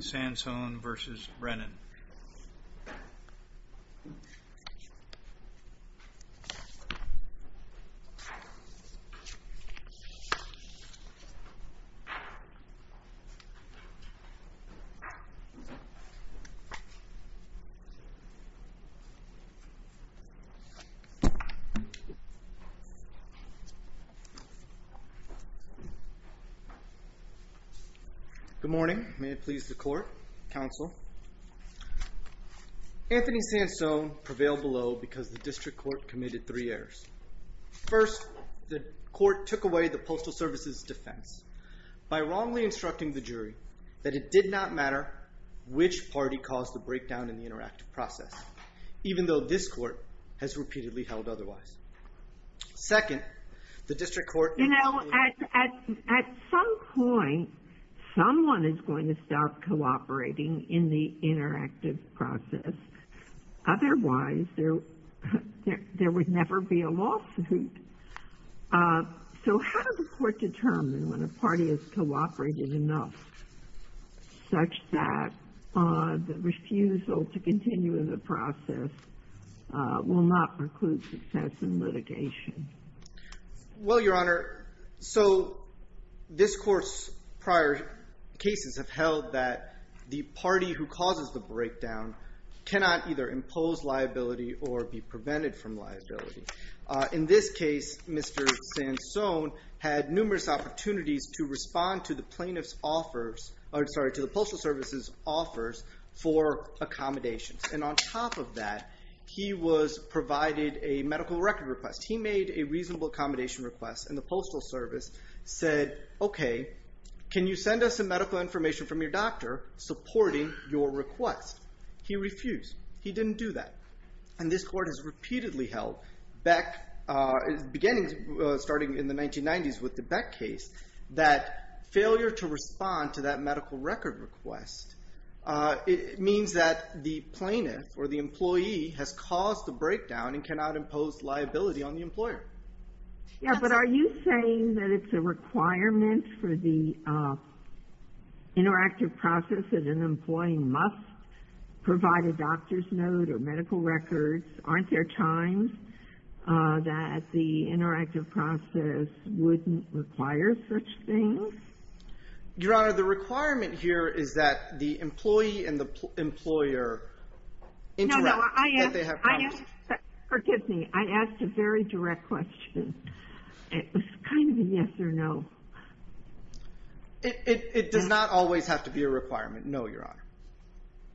Sansone v. Brennan Good morning, may it please the court, counsel. Anthony Sansone prevailed below because the district court committed three errors. First, the court took away the Postal Service's defense by wrongly instructing the jury that it did not matter which party caused the breakdown in the interactive process, even though this court has repeatedly held otherwise. Second, the district court... You know, at some point someone is going to start cooperating in the interactive process. Otherwise, there would never be a lawsuit. So how does the court determine when a party has cooperated enough such that the refusal to continue in the process will not preclude success in litigation? Well, your honor, so this court's prior cases have held that the party who causes the breakdown cannot either impose liability or be prevented from liability. In this case, Mr. Sansone had numerous opportunities to respond to the plaintiff's offers, or sorry, to the Postal Service's offers for accommodations. And on top of that, he was provided a medical record request. He made a reasonable accommodation request and the Postal Service said, okay, can you send us some medical information from your doctor supporting your request? He refused. He didn't do that. And this court has repeatedly held, beginning starting in the 1990s with the Beck case, that failure to respond to that medical record request, it means that the plaintiff or the employee has caused a breakdown and cannot impose liability on the employer. Yeah, but are you saying that it's a requirement for the interactive process that an employee must provide a doctor's note or medical records? Aren't there times that the interactive process wouldn't require such things? Your Honor, the requirement here is that the employee and the employer No, no, I asked, forgive me, I asked a very direct question. It was kind of a yes or no. It does not always have to be a requirement. No, Your Honor.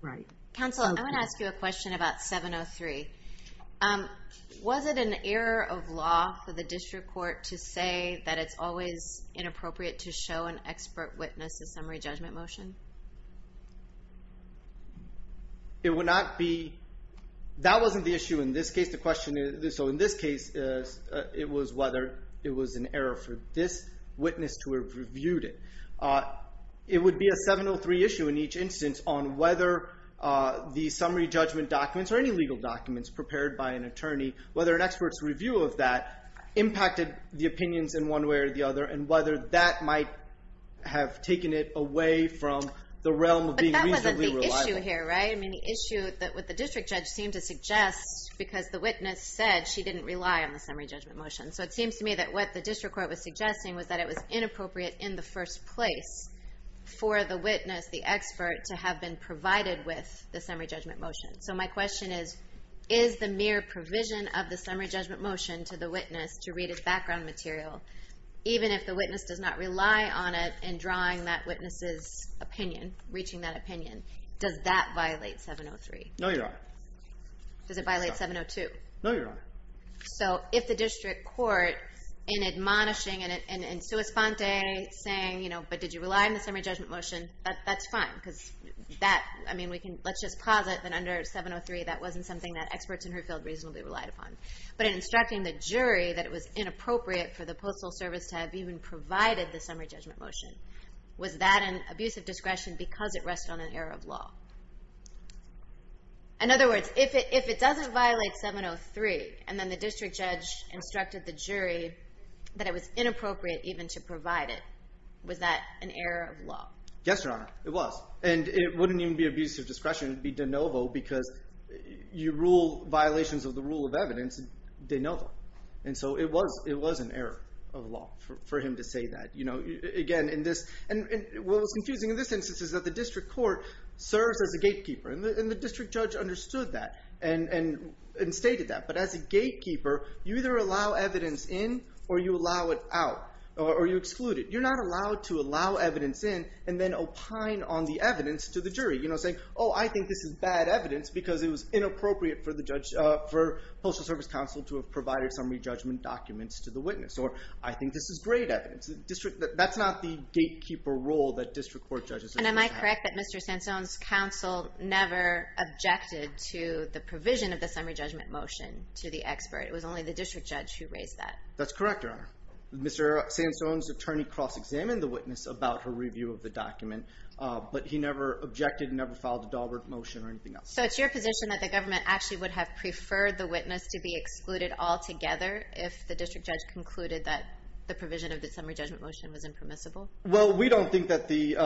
Right. Counsel, I want to ask you a question about 703. Was it an error of law for the district court to say that it's always inappropriate to show an expert witness a summary judgment motion? It would not be. That wasn't the issue in this case. The question is, so in this case, it was whether it was an error for this witness to have reviewed it. It would be a 703 issue in each instance on whether the summary judgment documents or any legal documents prepared by an attorney, whether an expert's view of that impacted the opinions in one way or the other, and whether that might have taken it away from the realm of being reasonably reliable. But that wasn't the issue here, right? I mean, the issue that what the district judge seemed to suggest, because the witness said she didn't rely on the summary judgment motion. So it seems to me that what the district court was suggesting was that it was inappropriate in the first place for the witness, the expert, to have been provided with the summary judgment motion. So my question is, is the mere provision of the summary judgment motion to the witness to read its background material, even if the witness does not rely on it in drawing that witness's opinion, reaching that opinion, does that violate 703? No, Your Honor. Does it violate 702? No, Your Honor. So if the district court, in admonishing and in sua sponte, saying, you know, but did you rely on the summary judgment motion? That's fine, because that, I mean, we can, let's just posit that under 703, that wasn't something that experts in her field reasonably relied upon. But in instructing the jury that it was inappropriate for the Postal Service to have even provided the summary judgment motion, was that an abuse of discretion because it rested on an error of law? In other words, if it doesn't violate 703, and then the district judge instructed the jury that it was inappropriate even to provide it, was that an error of law? Yes, Your Honor, it was. And it wouldn't even be abuse of discretion. It'd be de novo, because you rule violations of the rule of evidence de novo. And so it was an error of law for him to say that. You know, again, in this, and what was confusing in this instance is that the district court serves as a gatekeeper. And the district judge understood that, and stated that. But as a gatekeeper, you either allow evidence in, or you allow it out, or you exclude it. You're not allowed to allow evidence in, and then opine on the evidence to the jury. You know, saying, oh, I think this is bad evidence because it was inappropriate for the judge, for Postal Service Counsel to have provided summary judgment documents to the witness. Or, I think this is great evidence. That's not the gatekeeper role that district court judges are supposed to have. And am I correct that Mr. Sansone's counsel never objected to the provision of the summary judgment motion to the expert? It was only the district judge who raised that. That's correct, Your Honor. Mr. Sansone's attorney cross-examined the witness about her review of the document. But he never objected, never filed a Dahlberg motion or anything else. So it's your position that the government actually would have preferred the witness to be excluded altogether if the district judge concluded that the provision of the summary judgment motion was impermissible? Well, we don't think that the,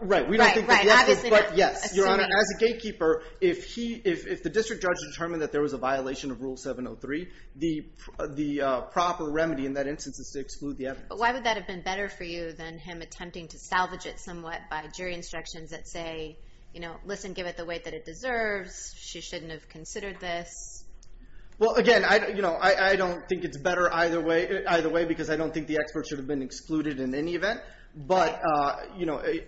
right, we don't think that the expert, but yes. Your Honor, as a gatekeeper, if he, if the district judge determined that there was a violation of Rule 703, the proper remedy in that instance is to exclude the evidence. But why would that have been better for you than him attempting to salvage it somewhat by jury instructions that say, you know, listen, give it the weight that it deserves. She shouldn't have considered this. Well, again, I don't think it's better either way because I don't think the expert should have been excluded in any event. But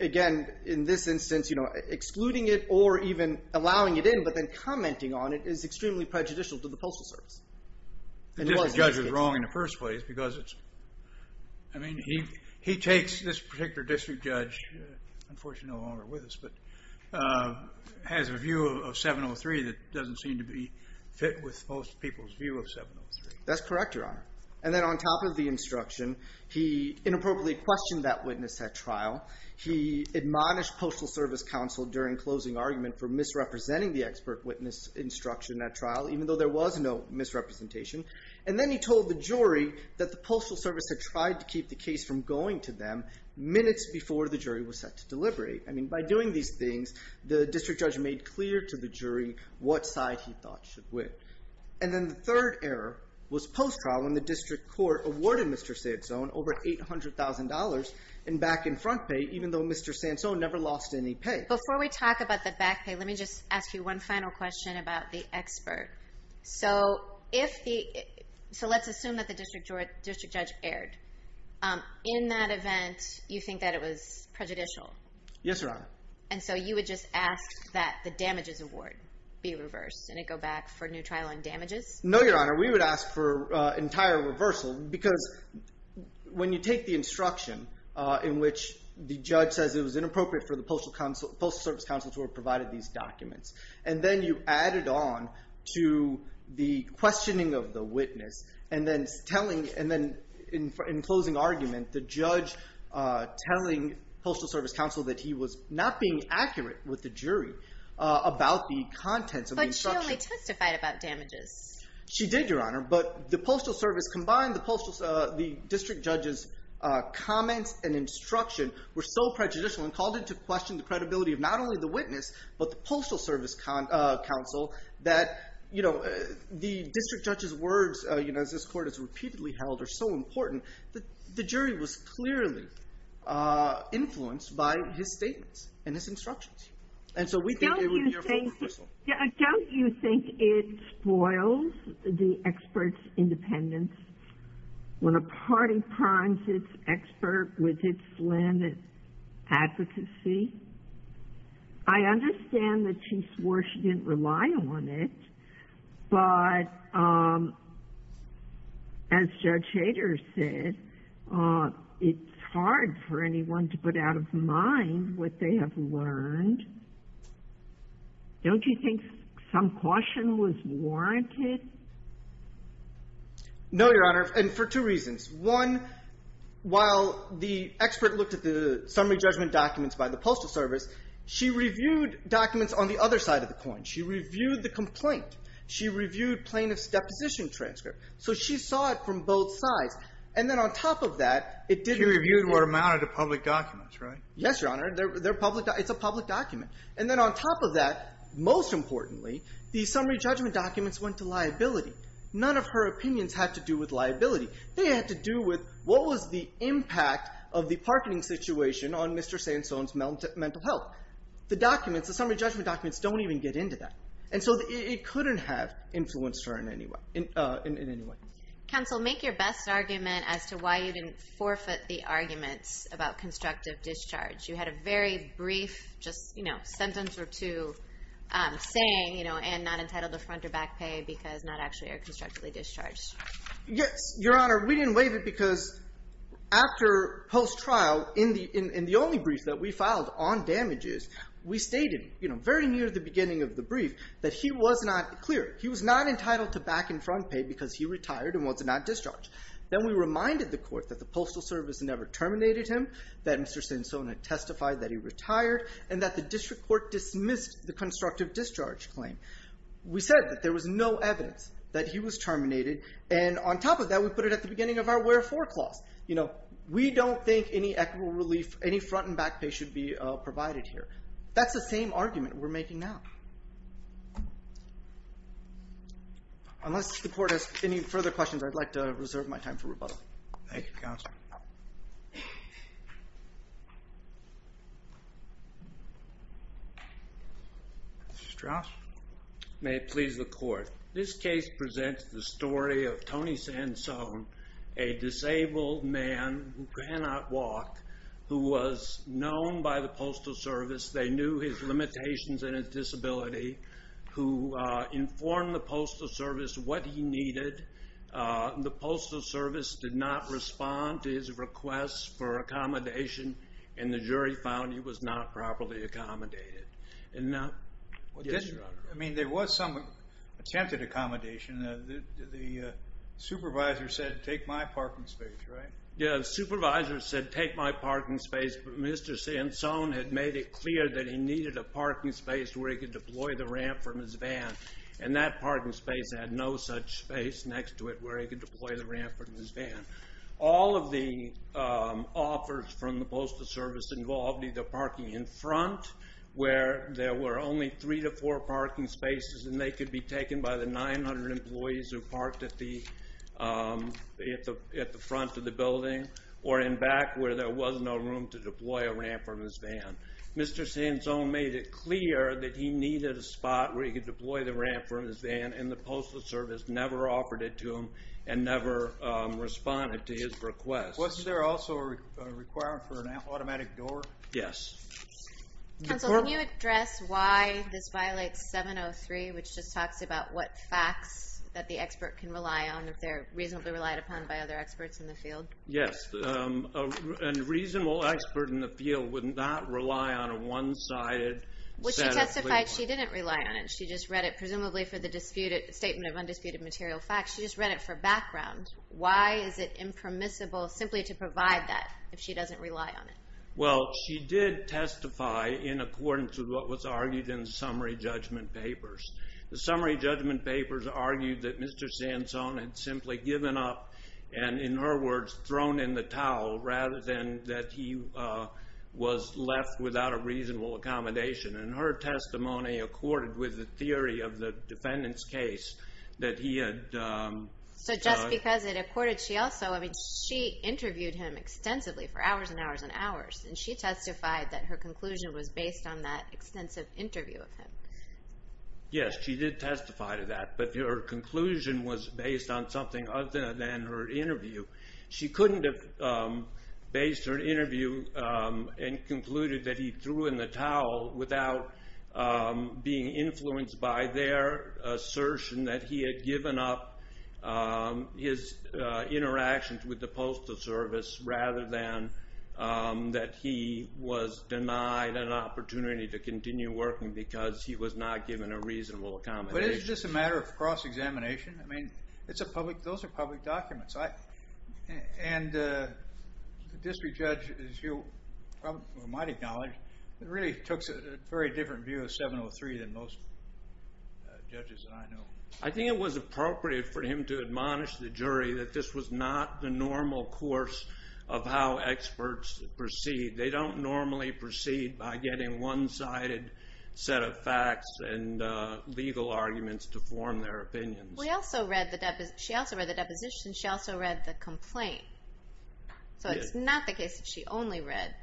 again, in this instance, excluding it or even allowing it in, but then commenting on it is extremely prejudicial to the Postal Service. The district judge is takes this particular district judge, unfortunately no longer with us, but has a view of 703 that doesn't seem to be fit with most people's view of 703. That's correct, Your Honor. And then on top of the instruction, he inappropriately questioned that witness at trial. He admonished Postal Service counsel during closing argument for misrepresenting the expert witness instruction at trial, even though there was no misrepresentation. And then he told the jury that the Postal Service had tried to keep the case from going to them minutes before the jury was set to deliberate. I mean, by doing these things, the district judge made clear to the jury what side he thought should win. And then the third error was post-trial when the district court awarded Mr. Sansone over $800,000 in back and front pay, even though Mr. Sansone never lost any pay. Before we talk about the back pay, let me just ask you one final question about the expert. So let's assume that the district judge erred. In that event, you think that it was prejudicial? Yes, Your Honor. And so you would just ask that the damages award be reversed and it go back for new trial on damages? No, Your Honor. We would ask for entire reversal because when you take the instruction in which the judge says it was inappropriate for the Postal Service counsel to have provided these documents, and then you add it on to the questioning of the witness and then in closing argument, the judge telling Postal Service counsel that he was not being accurate with the jury about the contents of the instruction. But she only testified about damages. She did, Your Honor. But the Postal Service combined the district judge's comments and instruction were so prejudicial and called into question the credibility of not only the witness, but the Postal Service counsel that the district judge's words, as this court has repeatedly held, are so important that the jury was clearly influenced by his statements and his instructions. And so we think it would be a forward whistle. Don't you think it spoils the expert's independence when a party primes its expert with its slanted advocacy? I understand that she didn't rely on it, but as Judge Hader said, it's hard for anyone to put out of mind what they have learned. Don't you think some caution was warranted? No, Your Honor, and for two reasons. One, while the expert looked at the summary judgment documents by the Postal Service, she reviewed documents on the other side of the coin. She reviewed the complaint. She reviewed plaintiff's deposition transcript. So she saw it from both sides. And then on top of that, it didn't... She reviewed what amounted to public documents, right? Yes, Your Honor. They're public. It's a public document. And then on top of that, most importantly, the summary judgment documents went to liability. None of her opinions had to do with liability. They had to do with what was the impact of the parking situation on Mr. Sandstone's mental health. The summary judgment documents don't even get into that. And so it couldn't have influenced her in any way. Counsel, make your best argument as to why you didn't forfeit the arguments about constructive discharge. You had a very brief sentence or two saying, and not entitled to front or back pay because not actually are constructively discharged. Yes, Your Honor. We didn't waive it because after post-trial, in the only brief that we filed on damages, we stated very near the beginning of the brief that he was not clear. He was not entitled to back and front pay because he retired and was not discharged. Then we reminded the court that the postal service never terminated him, that Mr. Sandstone had testified that he retired, and that the district court dismissed the constructive discharge claim. We said that there was no evidence that he was terminated. And on top of that, we put it at the beginning of our foreclose. We don't think any equitable relief, any front and back pay should be provided here. That's the same argument we're making now. Unless the court has any further questions, I'd like to reserve my time for rebuttal. Thank you, counsel. Mr. Strauss. May it please the court. This case presents the story of Tony Sandstone, a disabled man who cannot walk, who was known by the postal service. They knew his limitations and his disability, who informed the postal service what he needed. The postal service did not respond to his request for accommodation, and the jury found he was not properly accommodated. I mean, there was some attempted accommodation. The supervisor said, take my parking space, right? Yeah, the supervisor said, take my parking space, but Mr. Sandstone had made it clear that he needed a parking space where he could deploy the ramp from his van, and that parking space had no such space next to it where he could deploy the ramp from his van. All of the offers from the postal service involved either parking in front, where there were only three to four parking spaces, and they could be taken by the 900 employees who parked at the front of the building, or in back, where there was no room to deploy a ramp from his van. Mr. Sandstone made it clear that he needed a spot where he could deploy the ramp from his van, and the postal service never offered it to him, and never responded to his request. Was there also a requirement for an accommodation? Counsel, can you address why this violates 703, which just talks about what facts that the expert can rely on if they're reasonably relied upon by other experts in the field? Yes, a reasonable expert in the field would not rely on a one-sided set of... Well, she testified she didn't rely on it. She just read it, presumably for the dispute, statement of undisputed material facts. She just read it for background. Why is it impermissible simply to provide that if she doesn't rely on it? Well, she did testify in accordance with what was argued in the summary judgment papers. The summary judgment papers argued that Mr. Sandstone had simply given up, and in her words, thrown in the towel, rather than that he was left without a reasonable accommodation. And her testimony accorded with the theory of the defendant's case that he had... So just because it accorded, she also... I mean, she interviewed him extensively for hours and hours and hours, and she testified that her conclusion was based on that extensive interview of him. Yes, she did testify to that, but her conclusion was based on something other than her interview. She couldn't have based her interview and concluded that he threw in the towel without being influenced by their assertion that he had given up his interactions with the postal service, rather than that he was denied an opportunity to continue working because he was not given a reasonable accommodation. But it's just a matter of cross examination. Those are public documents. And the district judge, as you might acknowledge, really took a very different view of 703 than most judges that I know. I think it was appropriate for him to admonish the jury that this was not the normal course of how experts proceed. They don't normally proceed by getting one-sided set of facts and legal arguments to form their opinions. She also read the deposition. She also read the complaint. So it's not the case that she only read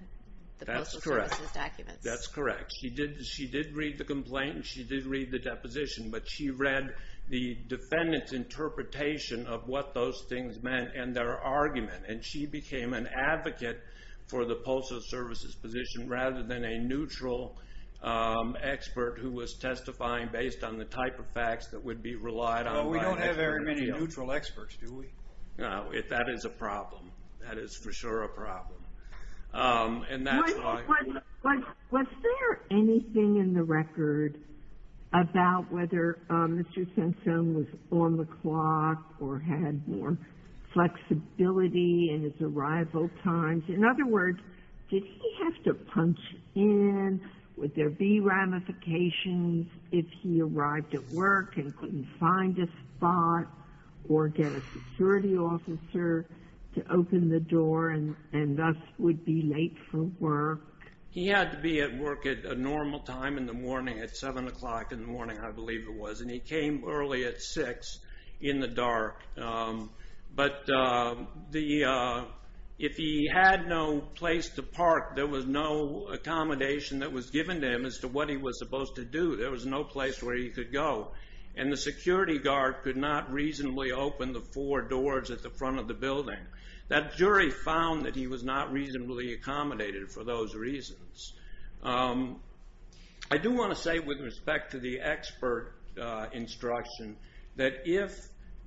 the postal service's documents. That's correct. She did read the complaint and she did read the deposition, but she read the defendant's interpretation of what those things meant and their argument. And she became an advocate for the postal service's position rather than a neutral expert who was testifying based on the type of facts that would be relied on by experts. Well, we don't have very many neutral experts, do we? Was there anything in the record about whether Mr. Simpson was on the clock or had more flexibility in his arrival times? In other words, did he have to punch in? Would there be ramifications if he arrived at work and couldn't find a spot or get a security officer to open the door and thus would be late for work? He had to be at work at a normal time in the morning at 7 o'clock in the morning, I believe it was, and he came early at 6 in the dark. But if he had no place to park, there was no accommodation that was given to him as to what he was supposed to do. There was no place where he could go. And the security guard could not reasonably open the four doors at the front of the building. That jury found that he was not reasonably accommodated for those reasons. I do want to say with respect to the expert instruction that if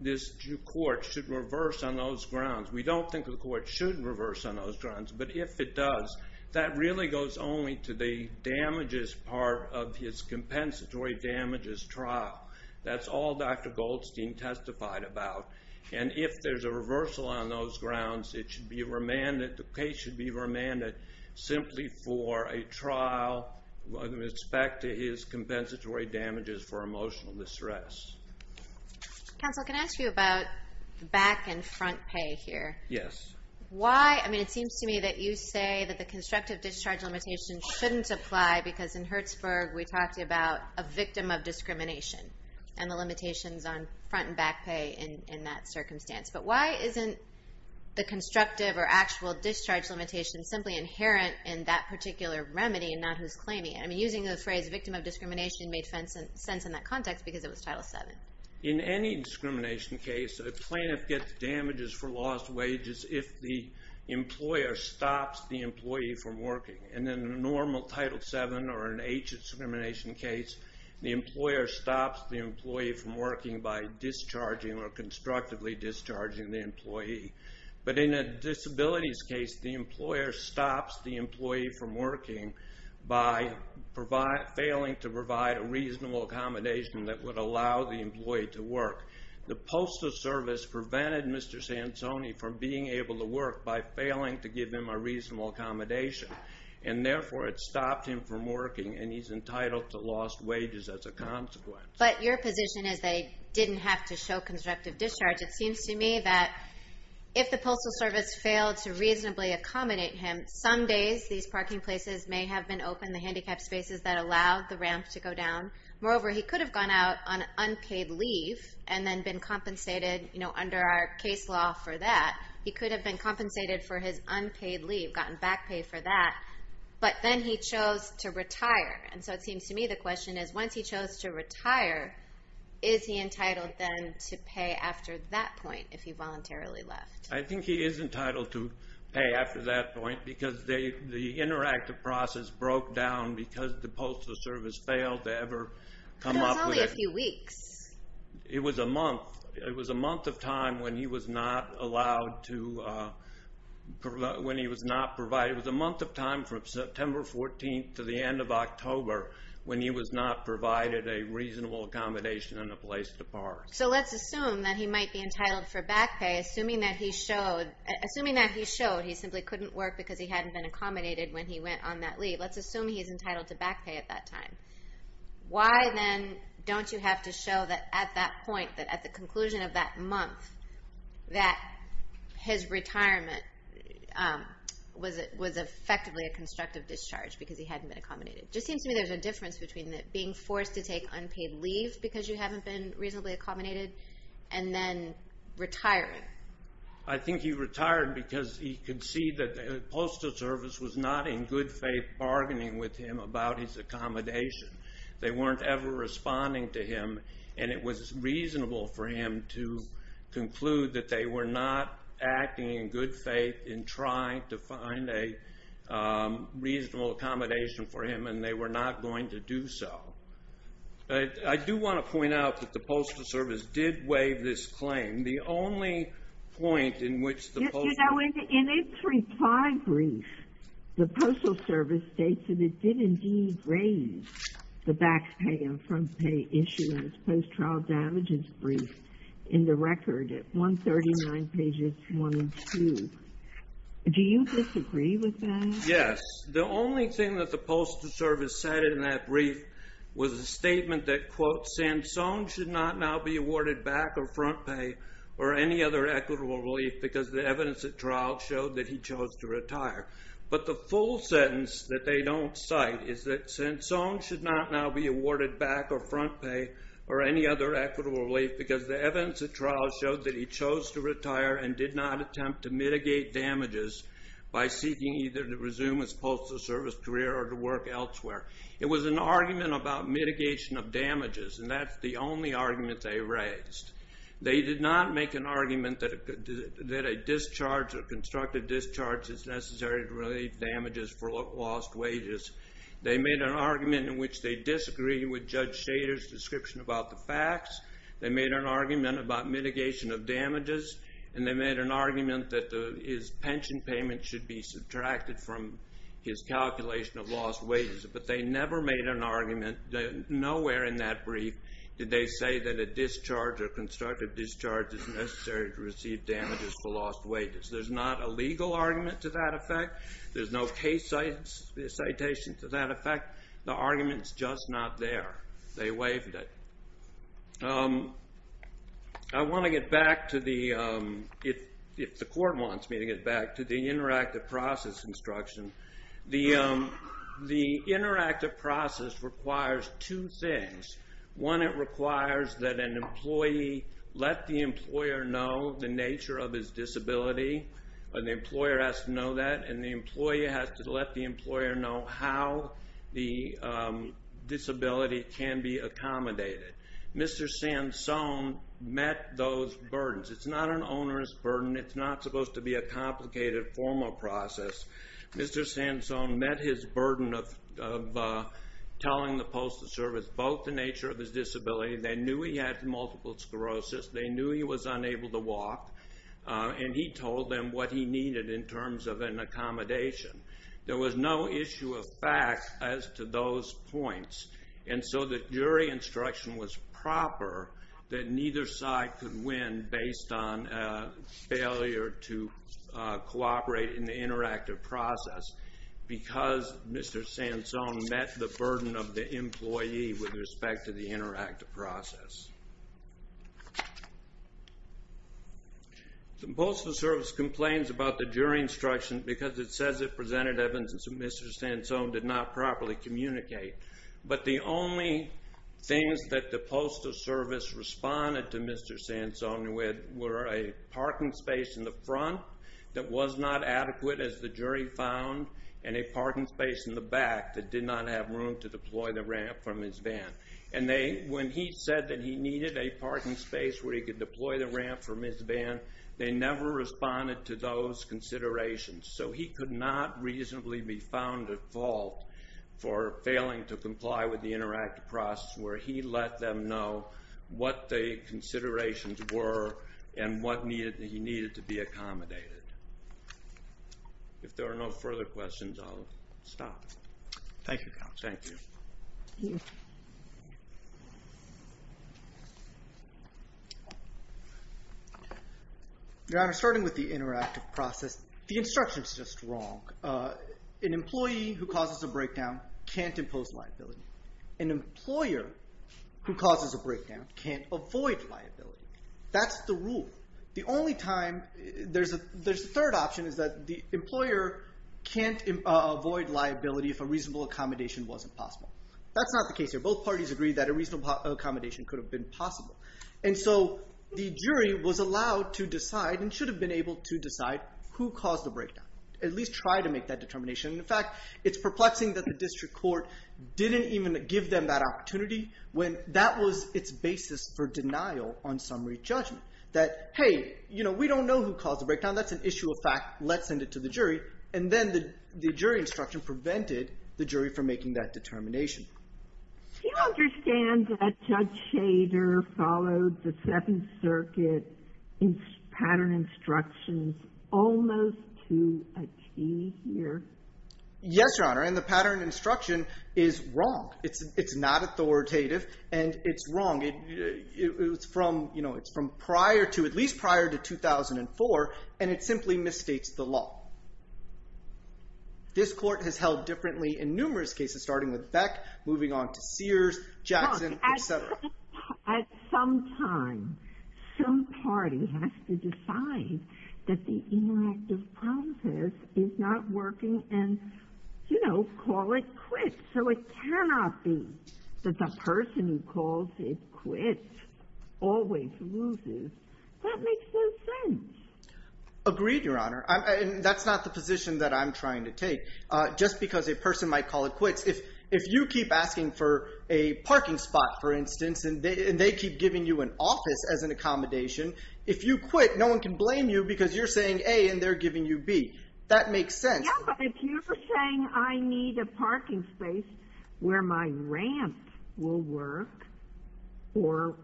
this court should reverse on those grounds, we don't think the court should reverse on those grounds. But if it does, that really goes only to the damages part of his compensatory damages trial. That's all Dr. Goldstein testified about. And if there's a reversal on those grounds, it should be remanded, the case should be remanded simply for a trial with respect to his compensatory damages for emotional distress. Counsel, can I ask you about back and front pay here? Yes. Why? I mean, it seems to me that you say that the constructive discharge limitation shouldn't apply because in Hertzberg, we talked about a victim of discrimination and the limitations on front and back pay in that circumstance. But why isn't the constructive or actual discharge limitation simply inherent in that particular remedy and not who's claiming it? I mean, using the phrase victim of discrimination made sense in that context because it was Title VII. In any discrimination case, a plaintiff gets damages for lost wages if the employer stops the employee from working. And in a normal Title VII or an H discrimination case, the employer stops the employee from working by discharging or constructively discharging the employee. But in a disabilities case, the employer stops the employee from working by failing to provide a reasonable accommodation that would allow the employee to work. The postal service prevented Mr. Sansoni from being able to work by failing to give him a reasonable accommodation and therefore it stopped him from working and he's entitled to lost wages as a consequence. But your position is they didn't have to show constructive discharge. It seems to me that if the postal service failed to reasonably accommodate him, some days these parking places may have been open, the handicapped spaces that allowed the ramp to go down. Moreover, he could have gone out on unpaid leave and then been compensated, you know, under our case law for that. He could have been compensated for his unpaid leave, gotten back pay for that, but then he chose to retire. And so it seems to me the question is once he chose to retire, is he entitled then to pay after that point if he voluntarily left? I think he is entitled to pay after that point because the interactive process broke down because the postal service failed to ever come up with it. But it was only a few weeks. It was a month. It was a month of time when he was not allowed to, when he was not provided, it was a month of time from September 14th to the end of October when he was not provided a reasonable accommodation and a place to park. So let's assume that he might be entitled for back pay assuming that he showed, assuming that he showed he simply couldn't work because he hadn't been accommodated when he went on that leave. Let's assume he's entitled to back pay at that time. Why then don't you have to show that at that point, that at the conclusion of that month, that his retirement was effectively a constructive discharge because he hadn't been accommodated? Just seems to me there's a difference between being forced to take unpaid leave because you haven't been reasonably accommodated and then retiring. I think he retired because he could see that the postal service was not in good faith bargaining with him about his accommodation. They weren't ever responding to him and it was reasonable for him to conclude that they were not acting in good faith in trying to find a reasonable accommodation for him and they were not going to do so. I do want to point out that the Postal Service did waive this claim. The only point in which the Postal Service... You know, in its reply brief, the Postal Service states that it did indeed raise the back pay and front pay issue in its post-trial damages brief in the record at 139 pages 1 and 2. Do you disagree with that? Yes. The only thing that the Postal Service said in that brief was a statement that, quote, Sansone should not now be awarded back or front pay or any other equitable relief because the evidence at trial showed that he chose to retire. But the full sentence that they don't cite is that Sansone should not now be awarded back or front pay or any other equitable relief because the evidence at trial showed that he chose to retire and did not attempt to mitigate damages by seeking either to resume his Postal Service career or to work elsewhere. It was an argument about mitigation of damages and that's the only argument they raised. They did not make an argument that a discharge or constructive discharge is necessary to relieve damages for lost wages. They made an argument in which they disagree with Judge Shader's description about the facts. They made an argument about from his calculation of lost wages, but they never made an argument. Nowhere in that brief did they say that a discharge or constructive discharge is necessary to receive damages for lost wages. There's not a legal argument to that effect. There's no case citation to that effect. The argument's just not there. They waived it. I want to get back to the, if the court wants me to get back to the interactive process instruction. The interactive process requires two things. One, it requires that an employee let the employer know the nature of his disability. An employer has to know that and the employee has to let the employer know how the disability can be accommodated. Mr. Sansone met those burdens. It's not an onerous burden. It's not supposed to be a complicated formal process. Mr. Sansone met his burden of telling the Postal Service both the nature of his disability. They knew he had multiple sclerosis. They knew he was unable to walk and he told them what he needed in terms of an accommodation. There was no issue of fact as to those points and so the jury instruction was proper that neither side could win based on a failure to cooperate in the interactive process because Mr. Sansone met the burden of the employee with respect to the interactive process. The Postal Service complains about the jury instruction because it says it Things that the Postal Service responded to Mr. Sansone with were a parking space in the front that was not adequate as the jury found and a parking space in the back that did not have room to deploy the ramp from his van. And when he said that he needed a parking space where he could deploy the ramp from his van, they never responded to those considerations. So he could not reasonably be found at fault for failing to comply with the interactive process where he let them know what the considerations were and what he needed to be accommodated. If there are no further questions, I'll stop. Thank you. Your Honor, starting with the interactive process, the instruction is just wrong. An employee who causes a breakdown can't impose liability. An employer who causes a breakdown can't avoid liability. That's the rule. The only time there's a third option is that the employer can't avoid liability if a reasonable accommodation wasn't possible. That's not the case here. Both parties agree that a reasonable accommodation could have been possible and so the jury was allowed to decide and should have been able to decide who caused the breakdown, at least try to make that determination. In fact, it's perplexing that the district court didn't even give them that opportunity when that was its basis for denial on summary judgment. That, hey, you know, we don't know who caused the breakdown. That's an issue of fact. Let's send it to the jury. And then the jury instruction prevented the jury from making that determination. Do you understand that Judge Shader followed the Seventh Circuit pattern instructions almost to a T here? Yes, Your Honor, and the pattern instruction is wrong. It's not authoritative and it's wrong. It's from, you know, it's from prior to, at least prior to 2004, and it simply misstates the law. This court has held differently in moving on to Sears, Jackson, etc. At some time, some party has to decide that the interactive process is not working and, you know, call it quits. So it cannot be that the person who calls it quits always loses. That makes no sense. Agreed, Your Honor. And that's not the position that I'm trying to take. Just because a person might call it quits, if you keep asking for a parking spot, for instance, and they keep giving you an office as an accommodation, if you quit, no one can blame you because you're saying, A, and they're giving you B. That makes sense. Yes, but if you're saying I need a parking space where my ramp will work or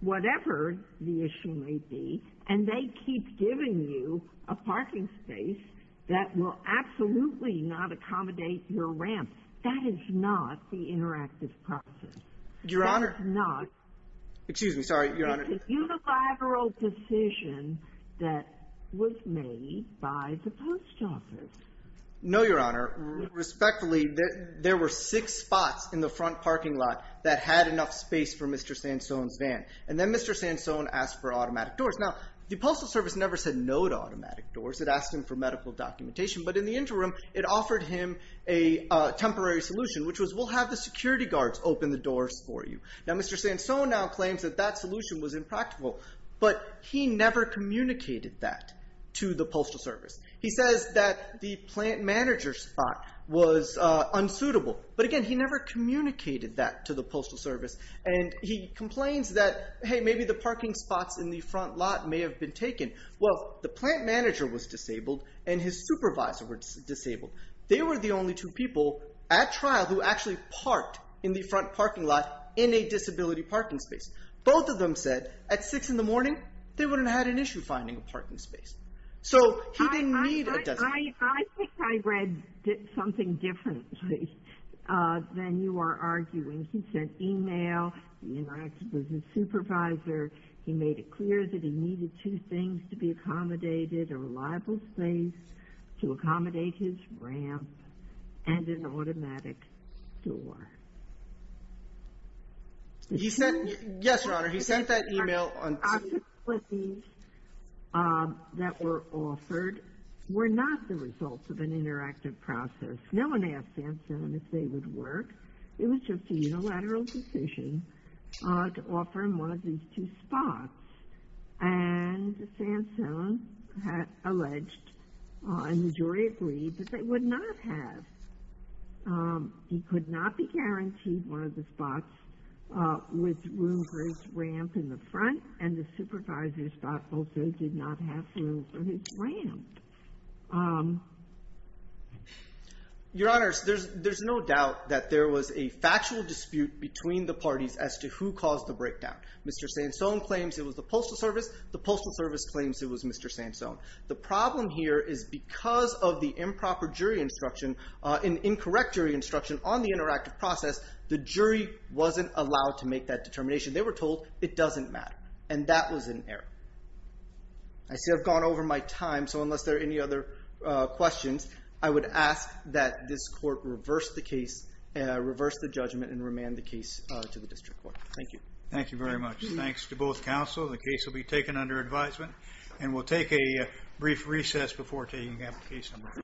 whatever the issue may be, and they keep giving you a parking space that will absolutely not accommodate your ramp, that is not the interactive process. Your Honor. Excuse me. Sorry, Your Honor. It's a unilateral decision that was made by the post office. No, Your Honor. Respectfully, there were six spots in the front parking lot that had enough space for Mr. Sansone's van, and then Mr. Sansone asked for automatic doors. Now, the Postal Service never said no to automatic doors. It asked him for medical documentation, but in the interim, it offered him a temporary solution, which was we'll have the security guards open the doors for you. Now, Mr. Sansone now claims that that solution was impractical, but he never communicated that to the Postal Service. He says that the plant manager spot was unsuitable, but again, he never communicated that to the Postal Service, and he complains that, hey, maybe the parking spots in the front lot may have been taken. Well, the plant manager was disabled, and his supervisor was disabled. They were the only two people at trial who actually parked in the front parking lot in a disability parking space. Both of them said at six in the morning, they wouldn't have had an issue finding a parking space, so he didn't need a designated. I think I read something differently than you are arguing. He sent email. He interacted with his supervisor. He made it clear that he needed two things to be accommodated, a reliable space to accommodate his ramp, and an automatic door. Yes, Your Honor. He sent that email on Tuesday. The opportunities that were offered were not the results of an interactive process. No one asked Sansone if they would work. It was just a unilateral decision to offer him one of these two spots, and Sansone alleged, and the jury agreed, that they would not have. He could not be guaranteed one of the spots with room for his ramp in the front, and the supervisor's spot also did not have room for his ramp. Your Honor, there's no doubt that there was a factual dispute between the parties as to who caused the breakdown. Mr. Sansone claims it was the Postal Service. The Postal Service claims it was Mr. Sansone. The problem here is because of the improper instruction, an incorrect jury instruction on the interactive process, the jury wasn't allowed to make that determination. They were told it doesn't matter, and that was an error. I say I've gone over my time, so unless there are any other questions, I would ask that this court reverse the case, reverse the judgment, and remand the case to the District Court. Thank you. Thank you very much. Thanks to both counsel. The case will be taken under advisement, and we'll take a brief recess before taking up case number five.